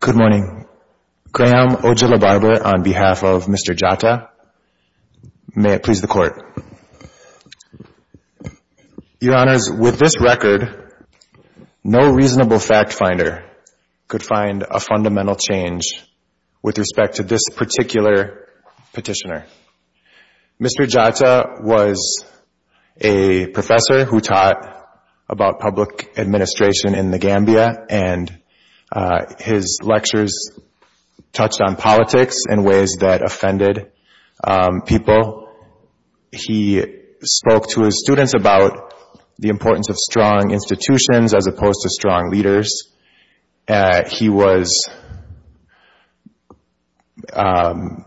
Good morning, Graham Ojalababa on behalf of Mr. Jatta. May it please the Court. Your Honors, with this record, no reasonable fact finder could find a fundamental change with respect to this particular petitioner. Mr. Jatta was a professor who taught about public administration in The Gambia, and his lectures touched on politics in ways that offended people. He spoke to his students about the importance of strong institutions as opposed to strong leaders. He was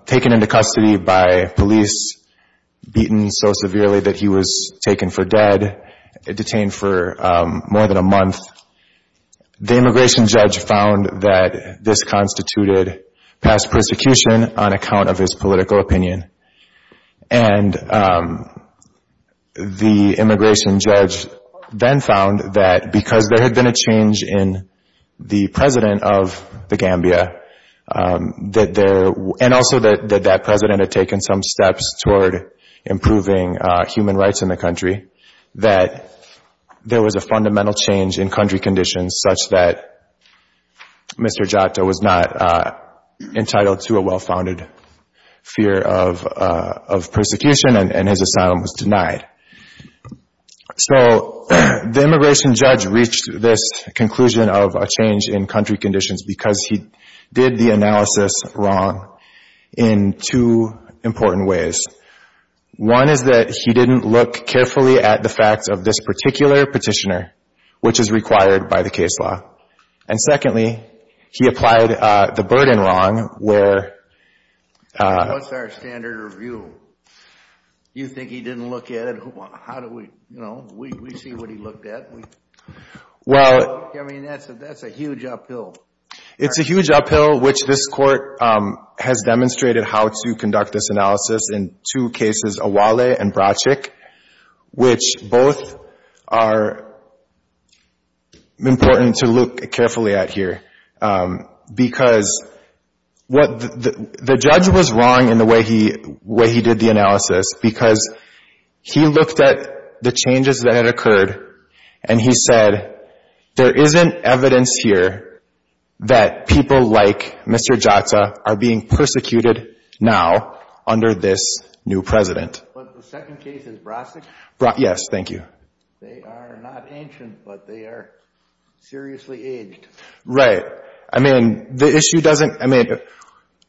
taken into custody by police, beaten so severely that he was taken for dead, detained for more than a month. The immigration judge found that this constituted past persecution on account of his political opinion. And the immigration judge then found that because there had been a change in the president of The Gambia, and also that that president had taken some steps toward improving human rights in the country, that there was a fundamental change in country conditions such that Mr. Jatta was not entitled to a well-founded fear of persecution, and his asylum was denied. So the immigration judge reached this conclusion of a change in country conditions because he did the analysis wrong in two important ways. One is that he didn't look carefully at the facts of this particular petitioner, which is required by the case law. And secondly, he applied the burden wrong, where... What's our standard of view? You think he didn't look at it? How do we, you know, we see what he looked at. Well... I mean, that's a huge uphill. It's a huge uphill, which this Court has demonstrated how to conduct this analysis in two cases, Awale and Bracek, which both are important to look carefully at here. Because what the judge was wrong in the way he did the analysis, because he looked at the changes that had occurred, and he said, there isn't evidence here that people like Mr. Jatta are being persecuted now under this new president. But the second case is Bracek? Yes, thank you. They are not ancient, but they are seriously aged. Right. I mean, the issue doesn't... I mean,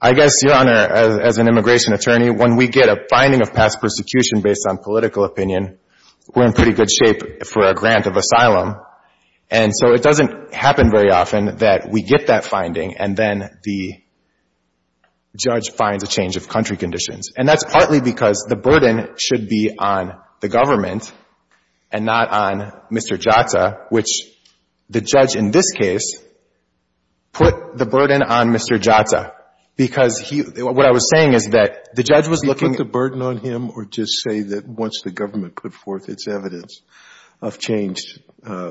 I guess, Your Honor, as an immigration attorney, when we get a finding of past persecution based on political opinion, we're in pretty good shape for a grant of asylum. And so it doesn't happen very often that we get that finding, and then the judge finds a change of country conditions. And that's partly because the burden should be on the government and not on Mr. Jatta, which the judge in this case put the burden on Mr. Jatta. Because he... What I was saying is that the judge was looking... He didn't put the burden on him or just say that once the government put forth its evidence of changed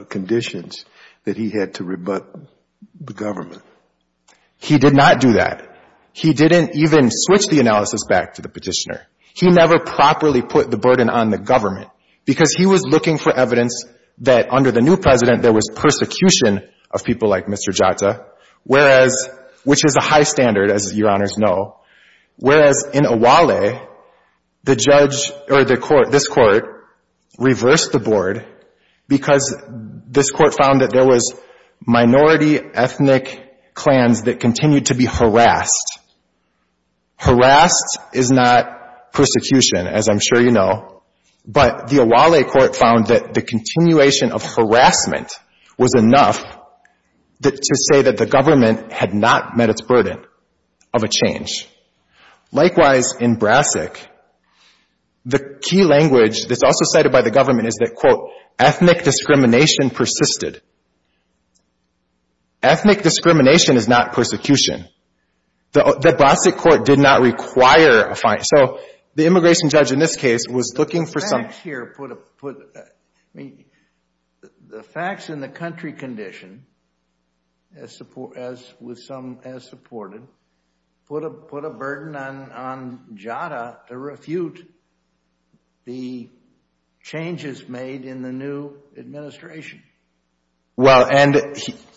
conditions, that he had to rebut the government. He did not do that. He didn't even switch the analysis back to the petitioner. He never properly put the burden on the government, because he was looking for evidence that under the new president, there was persecution of people like Mr. Jatta, whereas, which is a Owhale, the judge or the court, this court reversed the board because this court found that there was minority ethnic clans that continued to be harassed. Harassed is not persecution, as I'm sure you know, but the Owhale court found that the continuation of harassment was enough to say that the government had not met its burden of a change. Likewise, in Brassic, the key language that's also cited by the government is that, quote, ethnic discrimination persisted. Ethnic discrimination is not persecution. The Brassic court did not require a fine. So, the immigration judge in this case was looking for some... The facts in the country condition, with some as supported, put a burden on Jatta to refute the changes made in the new administration. Well, and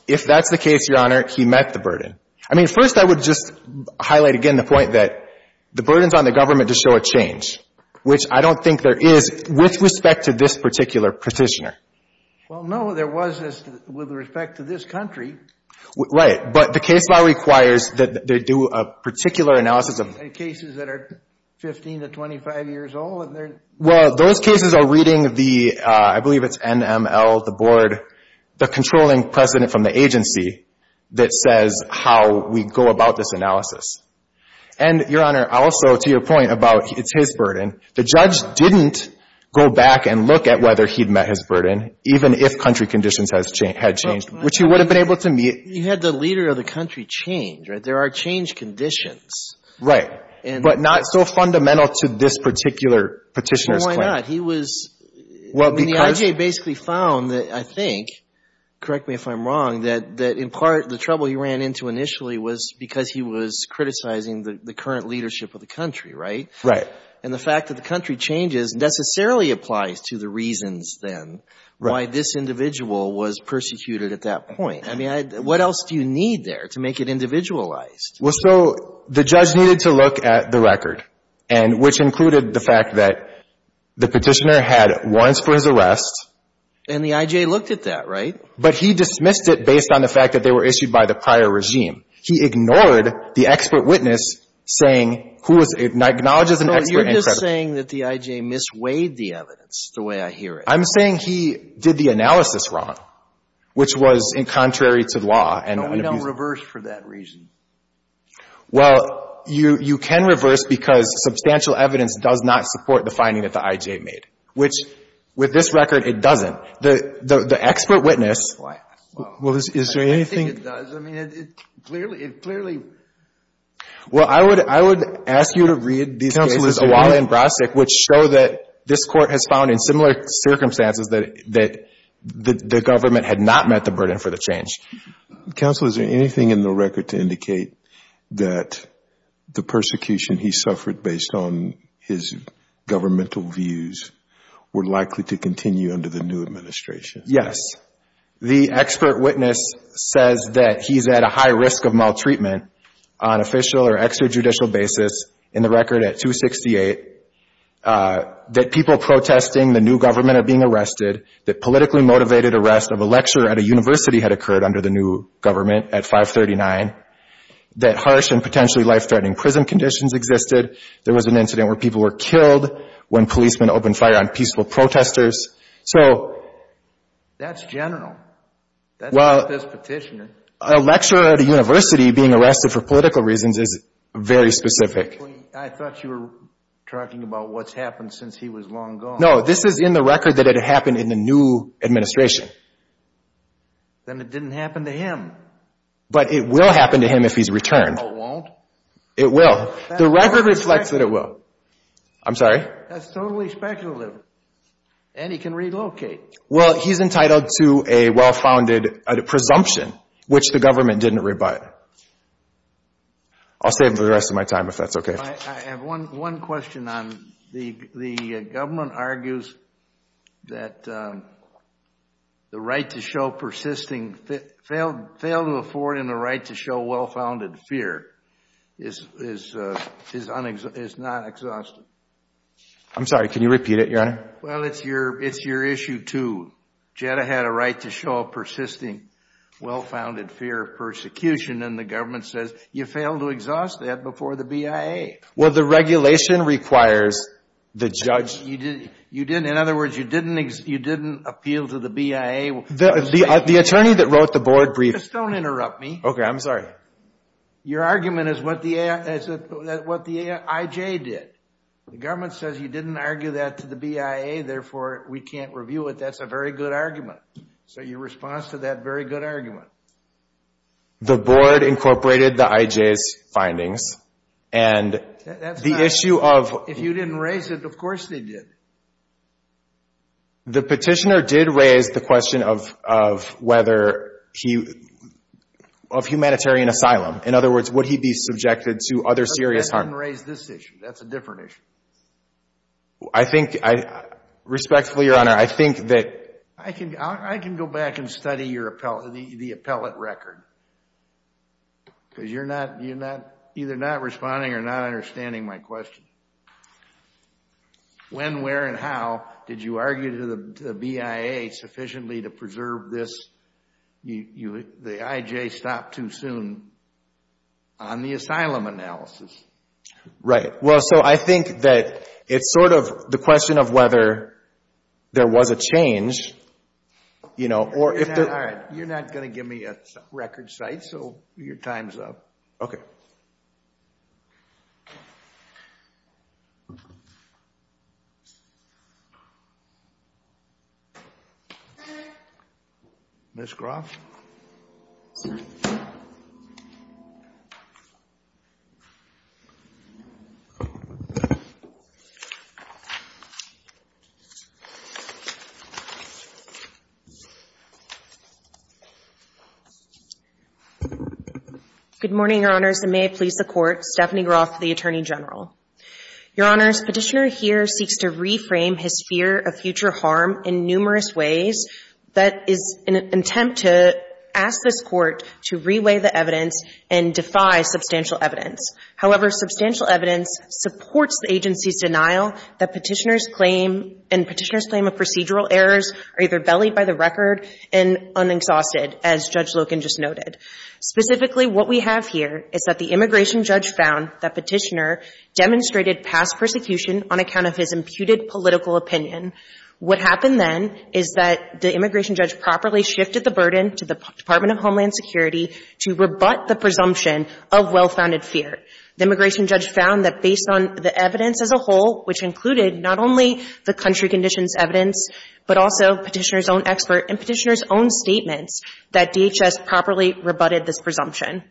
if that's the case, Your Honor, he met the burden. I mean, first, I would just highlight again the point that the burden's on the government to show a change, which I don't think there is with respect to this particular petitioner. Well, no, there was this with respect to this country. Right. But the case law requires that they do a particular analysis of... In cases that are 15 to 25 years old and they're... Well, those cases are reading the, I believe it's NML, the board, the controlling president from the agency that says how we go about this analysis. And, Your Honor, also to your point about it's his burden, the judge didn't go back and look at whether he'd met his burden, even if country conditions had changed, which he would have been able to meet. You had the leader of the country change, right? There are change conditions. Right. But not so fundamental to this particular petitioner's claim. Well, why not? He was... Well, because... I mean, the IJ basically found that, I think, correct me if I'm wrong, that in part, the trouble he ran into initially was because he was criticizing the current leadership of the country, right? Right. And the fact that the country changes necessarily applies to the reasons then why this individual was persecuted at that point. I mean, what else do you need there to make it individualized? Well, so the judge needed to look at the record, which included the fact that the petitioner had warrants for his arrest. And the IJ looked at that, right? But he dismissed it based on the fact that they were issued by the prior regime. He ignored the expert witness saying who was an expert and said... So you're just saying that the IJ misweighed the evidence the way I hear it. I'm saying he did the analysis wrong, which was contrary to law and... And we don't reverse for that reason. Well, you can reverse because substantial evidence does not support the finding that the IJ made, which with this record, it doesn't. The expert witness... Well, is there anything... I think it does. I mean, it clearly... Well, I would ask you to read these cases... Counsel, is there anything... ...Awala and Brastic, which show that this court has found in similar circumstances that the government had not met the burden for the change. Counsel, is there anything in the record to indicate that the persecution he suffered based on his governmental views were likely to continue under the new administration? The expert witness says that he's at a high risk of maltreatment on official or extrajudicial basis in the record at 268, that people protesting the new government are being arrested, that politically motivated arrest of a lecturer at a university had occurred under the new government at 539, that harsh and potentially life-threatening prison conditions existed, there was an incident where people were killed when policemen opened fire on peaceful protesters. So... That's general. Well... That's not this petitioner. A lecturer at a university being arrested for political reasons is very specific. I thought you were talking about what's happened since he was long gone. No, this is in the record that it happened in the new administration. Then it didn't happen to him. But it will happen to him if he's returned. No, it won't. It will. The record reflects that it will. I'm sorry? That's totally speculative. And he can relocate. Well, he's entitled to a well-founded presumption, which the government didn't rebut. I'll save the rest of my time if that's okay. I have one question on... The government argues that the right to show persisting... Fail to afford and the right to show well-founded fear is not exhaustive. I'm sorry, can you repeat it, Your Honor? Well, it's your issue too. Jetta had a right to show a persisting well-founded fear of persecution and the government says you failed to exhaust that before the BIA. Well, the regulation requires the judge... In other words, you didn't appeal to the BIA... The attorney that wrote the board brief... Just don't interrupt me. Okay, I'm sorry. Your argument is what the IJ did. The government says you didn't argue that to the BIA, therefore we can't review it. That's a very good argument. So your response to that very good argument... The board incorporated the IJ's findings and... That's not... The issue of... If you didn't raise it, of course they did. The petitioner did raise the question of whether he... Of humanitarian asylum. In other words, would he be subjected to other serious harm? But that didn't raise this issue. That's a different issue. I think I... Respectfully, Your Honor, I think that... I can go back and study the appellate record. Because you're either not responding or not understanding my question. When, where, and how did you argue to the BIA sufficiently to preserve this... The IJ stopped too soon on the asylum analysis? Right. Well, so I think that it's sort of the question of whether there was a change. You're not going to give me a record cite, so your time's up. Ms. Groff? Good morning, Your Honors. And may it please the Court, Stephanie Groff, the Attorney General. Your Honors, petitioner here seeks to reframe his fear of future harm in numerous ways. That is an attempt to ask this Court to reweigh the evidence and defy substantial evidence. However, substantial evidence supports the agency's denial that petitioner's claim and petitioner's claim of procedural errors are either bellied by the record and un-exhausted, as Judge Loken just noted. Specifically, what we have here is that the immigration judge found that petitioner demonstrated past persecution on account of his imputed political opinion. What happened then is that the immigration judge properly shifted the burden to the Department of Homeland Security to rebut the presumption of well-founded fear. The immigration judge found that based on the evidence as a whole, which included not only the country conditions evidence, but also petitioner's own expert and petitioner's own statements, that DHS properly rebutted this presumption.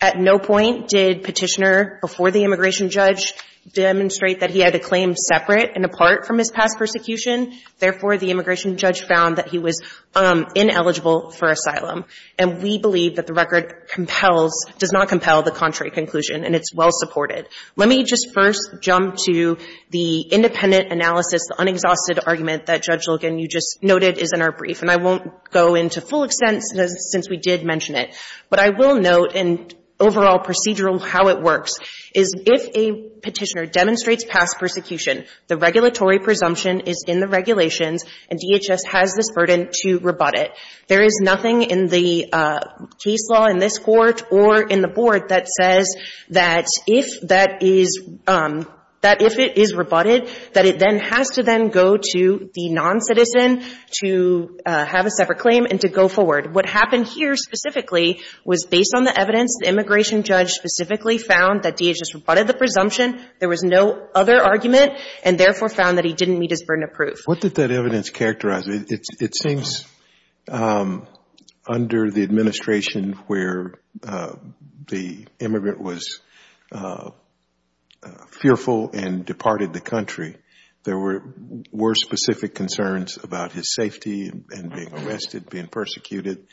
At no point did petitioner, before the immigration judge, demonstrate that he had a claim separate and apart from his past persecution. Therefore, the immigration judge found that he was ineligible for asylum. And we believe that the record compels, does not compel, the contrary conclusion. And it's well-supported. Let me just first jump to the independent analysis, the un-exhausted argument that Judge Loken, you just noted, is in our brief. And I won't go into full extent since we did mention it. But I will note in overall procedural how it works. Is if a petitioner demonstrates past persecution, the regulatory presumption is in the regulations and DHS has this burden to rebut it. There is nothing in the case law in this court or in the board that says that if that is, that if it is rebutted, that it then has to then go to the non-citizen to have a separate claim and to go forward. What happened here specifically was based on the evidence. The immigration judge specifically found that DHS rebutted the presumption. There was no other argument and therefore found that he didn't meet his burden of proof. What did that evidence characterize? It seems under the administration where the immigrant was fearful and departed the country, there were specific concerns about his safety and being arrested, being persecuted.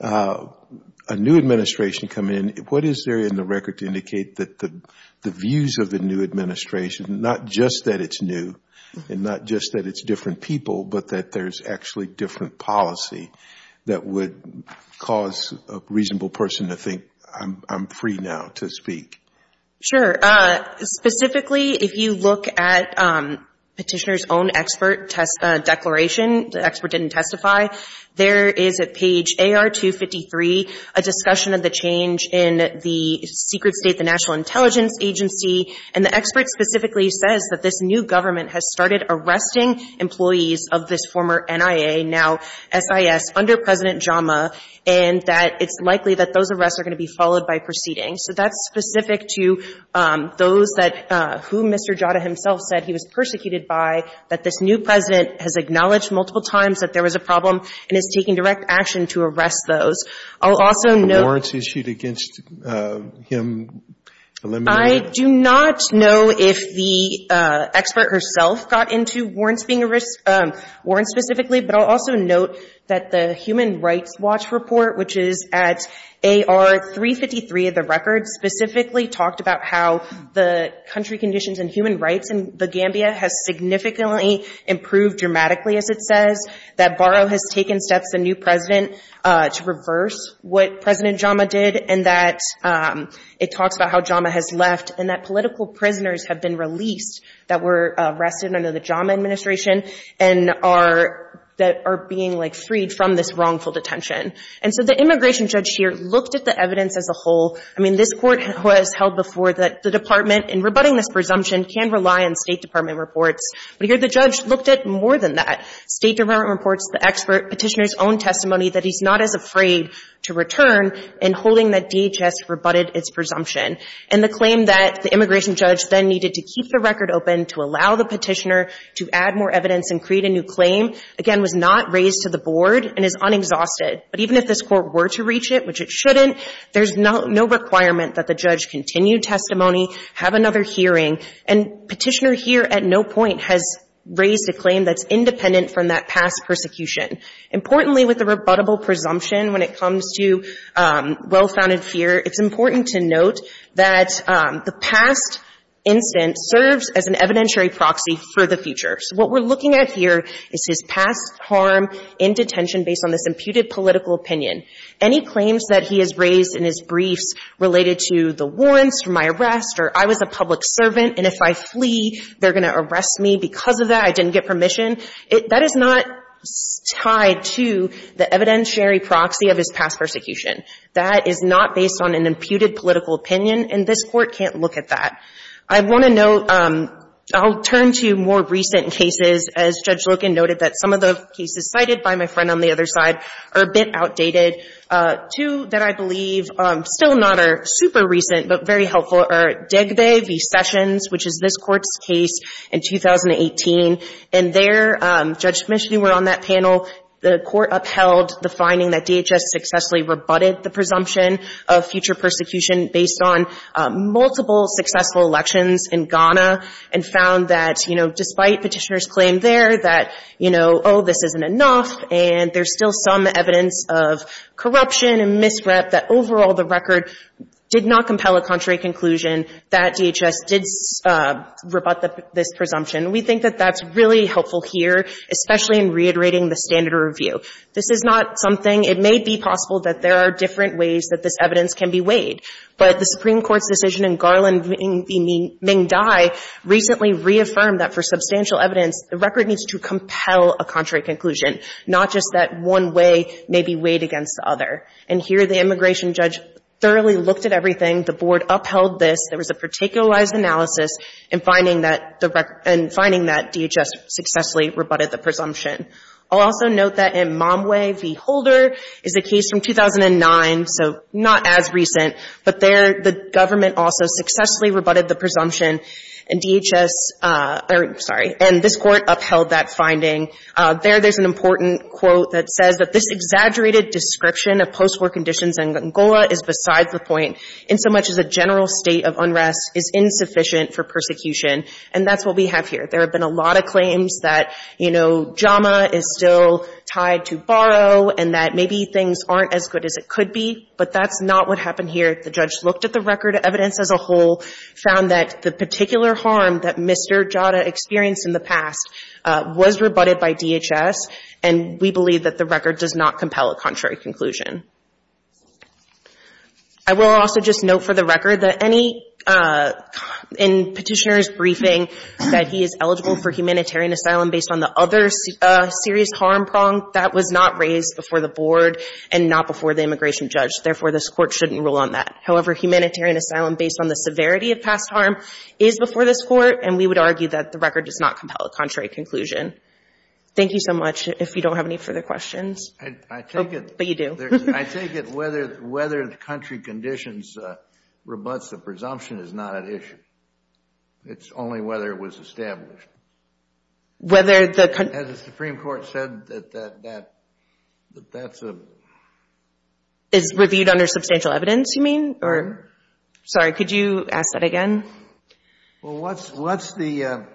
A new administration coming in, what is there in the record to indicate that the views of the new administration, not just that it's new and not just that it's different people, but that there's actually different policy that would cause a reasonable person to think, I'm free now to speak? Sure. Specifically, if you look at petitioner's own expert declaration, the expert didn't testify, there is at page AR253 a discussion of the change in the secret state, the National Intelligence Agency, and the expert specifically says that this new government has started arresting employees of this former NIA, now SIS, under President Jama, and that it's likely that those arrests are going to be followed by proceedings. So that's specific to those that, who Mr. Jada himself said he was persecuted by, that this new president has acknowledged multiple times that there was a problem and is taking direct action to arrest those. I'll also note... The warrants issued against him eliminated? I do not know if the expert herself got into warrants being, warrants specifically, but I'll also note that the Human Rights Watch report, which is at AR353 of the record, specifically talked about how the country conditions and human rights in The Gambia has significantly improved dramatically, as it says, that Barrow has taken steps, the new president, to reverse what President Jama did, and that it talks about how Jama has left, and that political prisoners have been released that were arrested under the Jama administration, and are being freed from this wrongful detention. And so the immigration judge here looked at the evidence as a whole. I mean, this court was held before the department and rebutting this presumption can rely on State Department reports, but here the judge looked at more than that. State Department reports the expert petitioner's own testimony that he's not as afraid to return in holding that DHS rebutted its presumption. And the claim that the immigration judge then needed to keep the record open to allow the petitioner to add more evidence and create a new claim, again, was not raised to the board and is unexhausted. But even if this court were to reach it, which it shouldn't, there's no requirement that the judge continue testimony, have another hearing, and petitioner here at no point has raised a claim that's independent from that past persecution. Importantly, with the rebuttable presumption, when it comes to well-founded fear, it's important to note that the past instance serves as an evidentiary proxy for the future. So what we're looking at here is his past harm in detention based on this imputed political opinion. Any claims that he has raised in his briefs related to the warrants for my arrest or I was a public servant and if I flee, they're going to arrest me because of that, I didn't get permission, that is not tied to the evidentiary proxy of his past persecution. That is not based on an imputed political opinion and this court can't look at that. I want to note, I'll turn to more recent cases as Judge Loken noted that some of the cases cited by my friend on the other side are a bit outdated. Two that I believe still not are super recent but very helpful are Degbe v. Sessions which is this court's case in 2018 and there, Judge Mishley were on that panel, the court upheld the finding that DHS successfully rebutted the presumption of future persecution based on multiple successful elections in Ghana and found that, you know, despite petitioner's claim there that, you know, oh this isn't enough and there's still some evidence of corruption and misrep that overall the record did not compel a contrary conclusion that DHS did rebut this presumption. We think that that's really helpful here, especially in reiterating the standard of review. This is not something, it may be possible that there are different ways that this evidence can be weighed but the Supreme Court's decision in Garland v. Ming Dai recently reaffirmed that for substantial evidence the record needs to compel a contrary conclusion not just that one way may be weighed against the other and here the immigration judge thoroughly looked at everything the board upheld this, there was a particularized analysis in finding that DHS successfully rebutted the presumption. I'll also note that in Momwe v. Holder is a case from 2009 so not as recent but there the government also successfully rebutted the presumption and DHS, sorry, and this court upheld that finding. There, there's an important quote that says that this exaggerated description of post-war conditions in Angola is besides the point in so much as a general state of unrest is insufficient for persecution and that's what we have here. There have been a lot of claims that, you know, JAMA is still tied to borrow and that maybe things aren't as good as it could be but that's not what happened here. The judge looked at the record evidence as a whole, found that the particular harm that Mr. Jada experienced in the past was rebutted by DHS and we believe that the record does not compel a contrary conclusion. I will also just note for the record that any, in petitioner's briefing said he is eligible for humanitarian asylum based on the other serious harm prong, that was not raised before the board and not before the immigration judge. Therefore, this court shouldn't rule on that. However, humanitarian asylum based on the severity of past harm is before this court and we would argue that the record does not compel a contrary conclusion. Thank you so much. If you don't have any further questions, but you do. I take it whether the country conditions rebuts the presumption is not at issue. It's only whether it was established. Whether the country... As the Supreme Court said that that's a... Is reviewed under substantial evidence, you mean? Sorry, could you ask that again? Well, what's the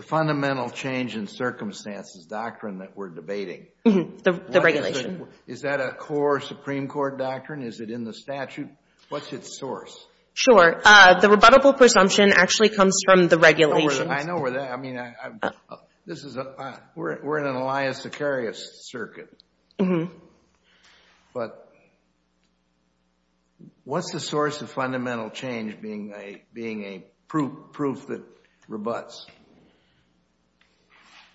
fundamental change in circumstances doctrine that we're debating? The regulation. Is that a core Supreme Court doctrine? Is it in the statute? What's its source? Sure. The rebuttable presumption actually comes from the regulation. I know where that... I mean, this is... We're in an Elias Sicarius circuit. what's the source of fundamental change being a proof that rebuts?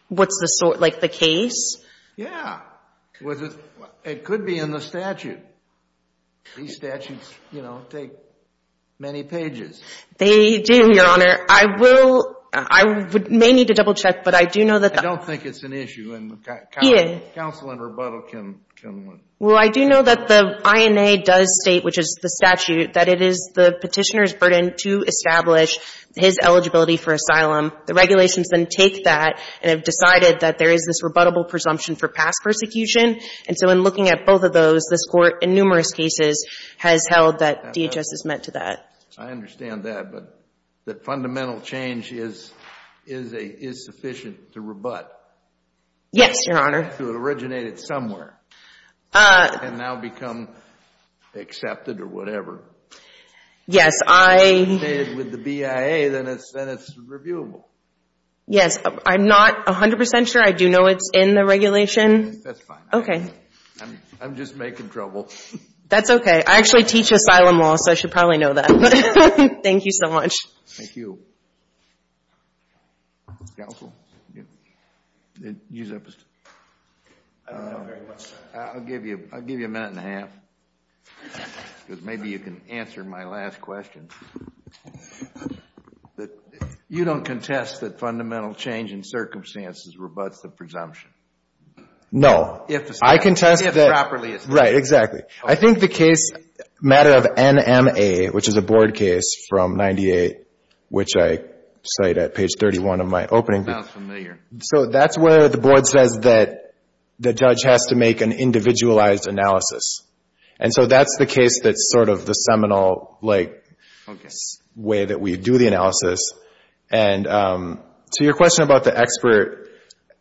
What's the source? Like the case? Yeah. It could be in the statute. These statutes, you know, take many pages. They do, Your Honor. I will... I may need to double-check, but I do know that... I don't think it's an issue, and counsel and rebuttal can... Well, I do know that the INA does state, which is the statute, that it is the Petitioner's burden to establish his eligibility for asylum. The regulations then take that and have decided that there is this rebuttable presumption for past persecution. And so in looking at both of those, this Court, in numerous cases, has held that DHS is meant to that. I understand that, but that fundamental change is sufficient to rebut? Yes, Your Honor. To originate it somewhere and now become accepted or whatever. Yes, I... With the BIA, then it's reviewable. Yes, I'm not 100% sure. I do know it's in the regulation. That's fine. I'm just making trouble. That's okay. I actually teach asylum law, so I should probably know that. Thank you so much. Thank you. I don't know very much, sir. I'll give you a minute and a half, because maybe you can answer my last question. You don't contest that fundamental change in circumstances rebuts the presumption? No. If properly established. Right, exactly. I think the case, matter of NMA, which is a Board case from 98, which I cite at page 31 of my opening... Sounds familiar. So that's where the Board says that the judge has to make an individualized analysis. And so that's the case that's sort of the seminal, like, way that we do the analysis. And to your question about the expert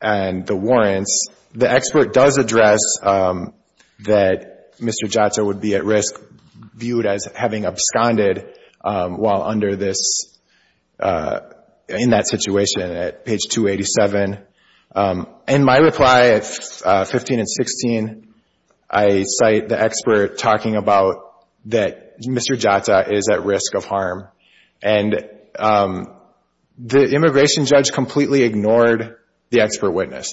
and the warrants, the expert does address that Mr. Giotto would be at risk viewed as having absconded while under this, in that situation at page 287. In my reply at 15 and 16, I cite the expert talking about that Mr. Giotto is at risk of harm. And the immigration judge completely ignored the expert witness.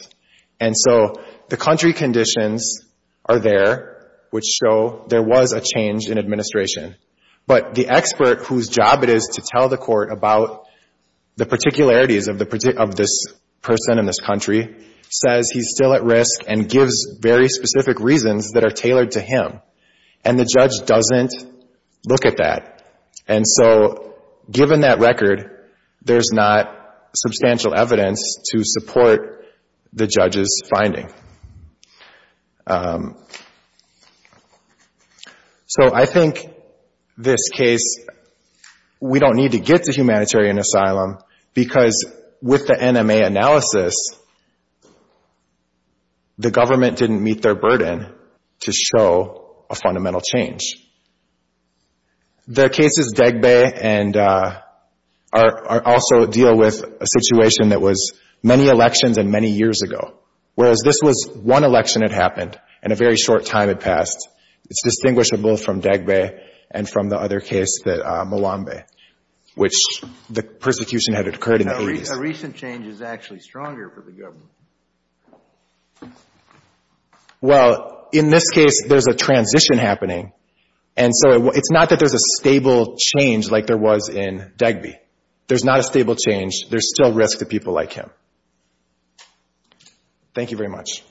And so the country conditions are there, which show there was a change in administration. But the expert, whose job it is to tell the court about the particularities of this person in this country, says he's still at risk and gives very specific reasons that are tailored to him. And the judge doesn't look at that. And so given that record, there's not substantial evidence to support the judge's finding. So I think this case, we don't need to get to humanitarian asylum because with the NMA analysis, the government didn't meet their burden to show a fundamental change. The cases Degbae also deal with a situation that was many elections and many years ago. Whereas this was one election that happened and a very short time had passed. It's distinguishable from Degbae and from the other case, Malombe, which the persecution had occurred in the 80s. Well, in this case, there's a transition happening. And so it's not that there's a stable change like there was in Degbae. There's not a stable change. There's still risk to people like him. Thank you very much.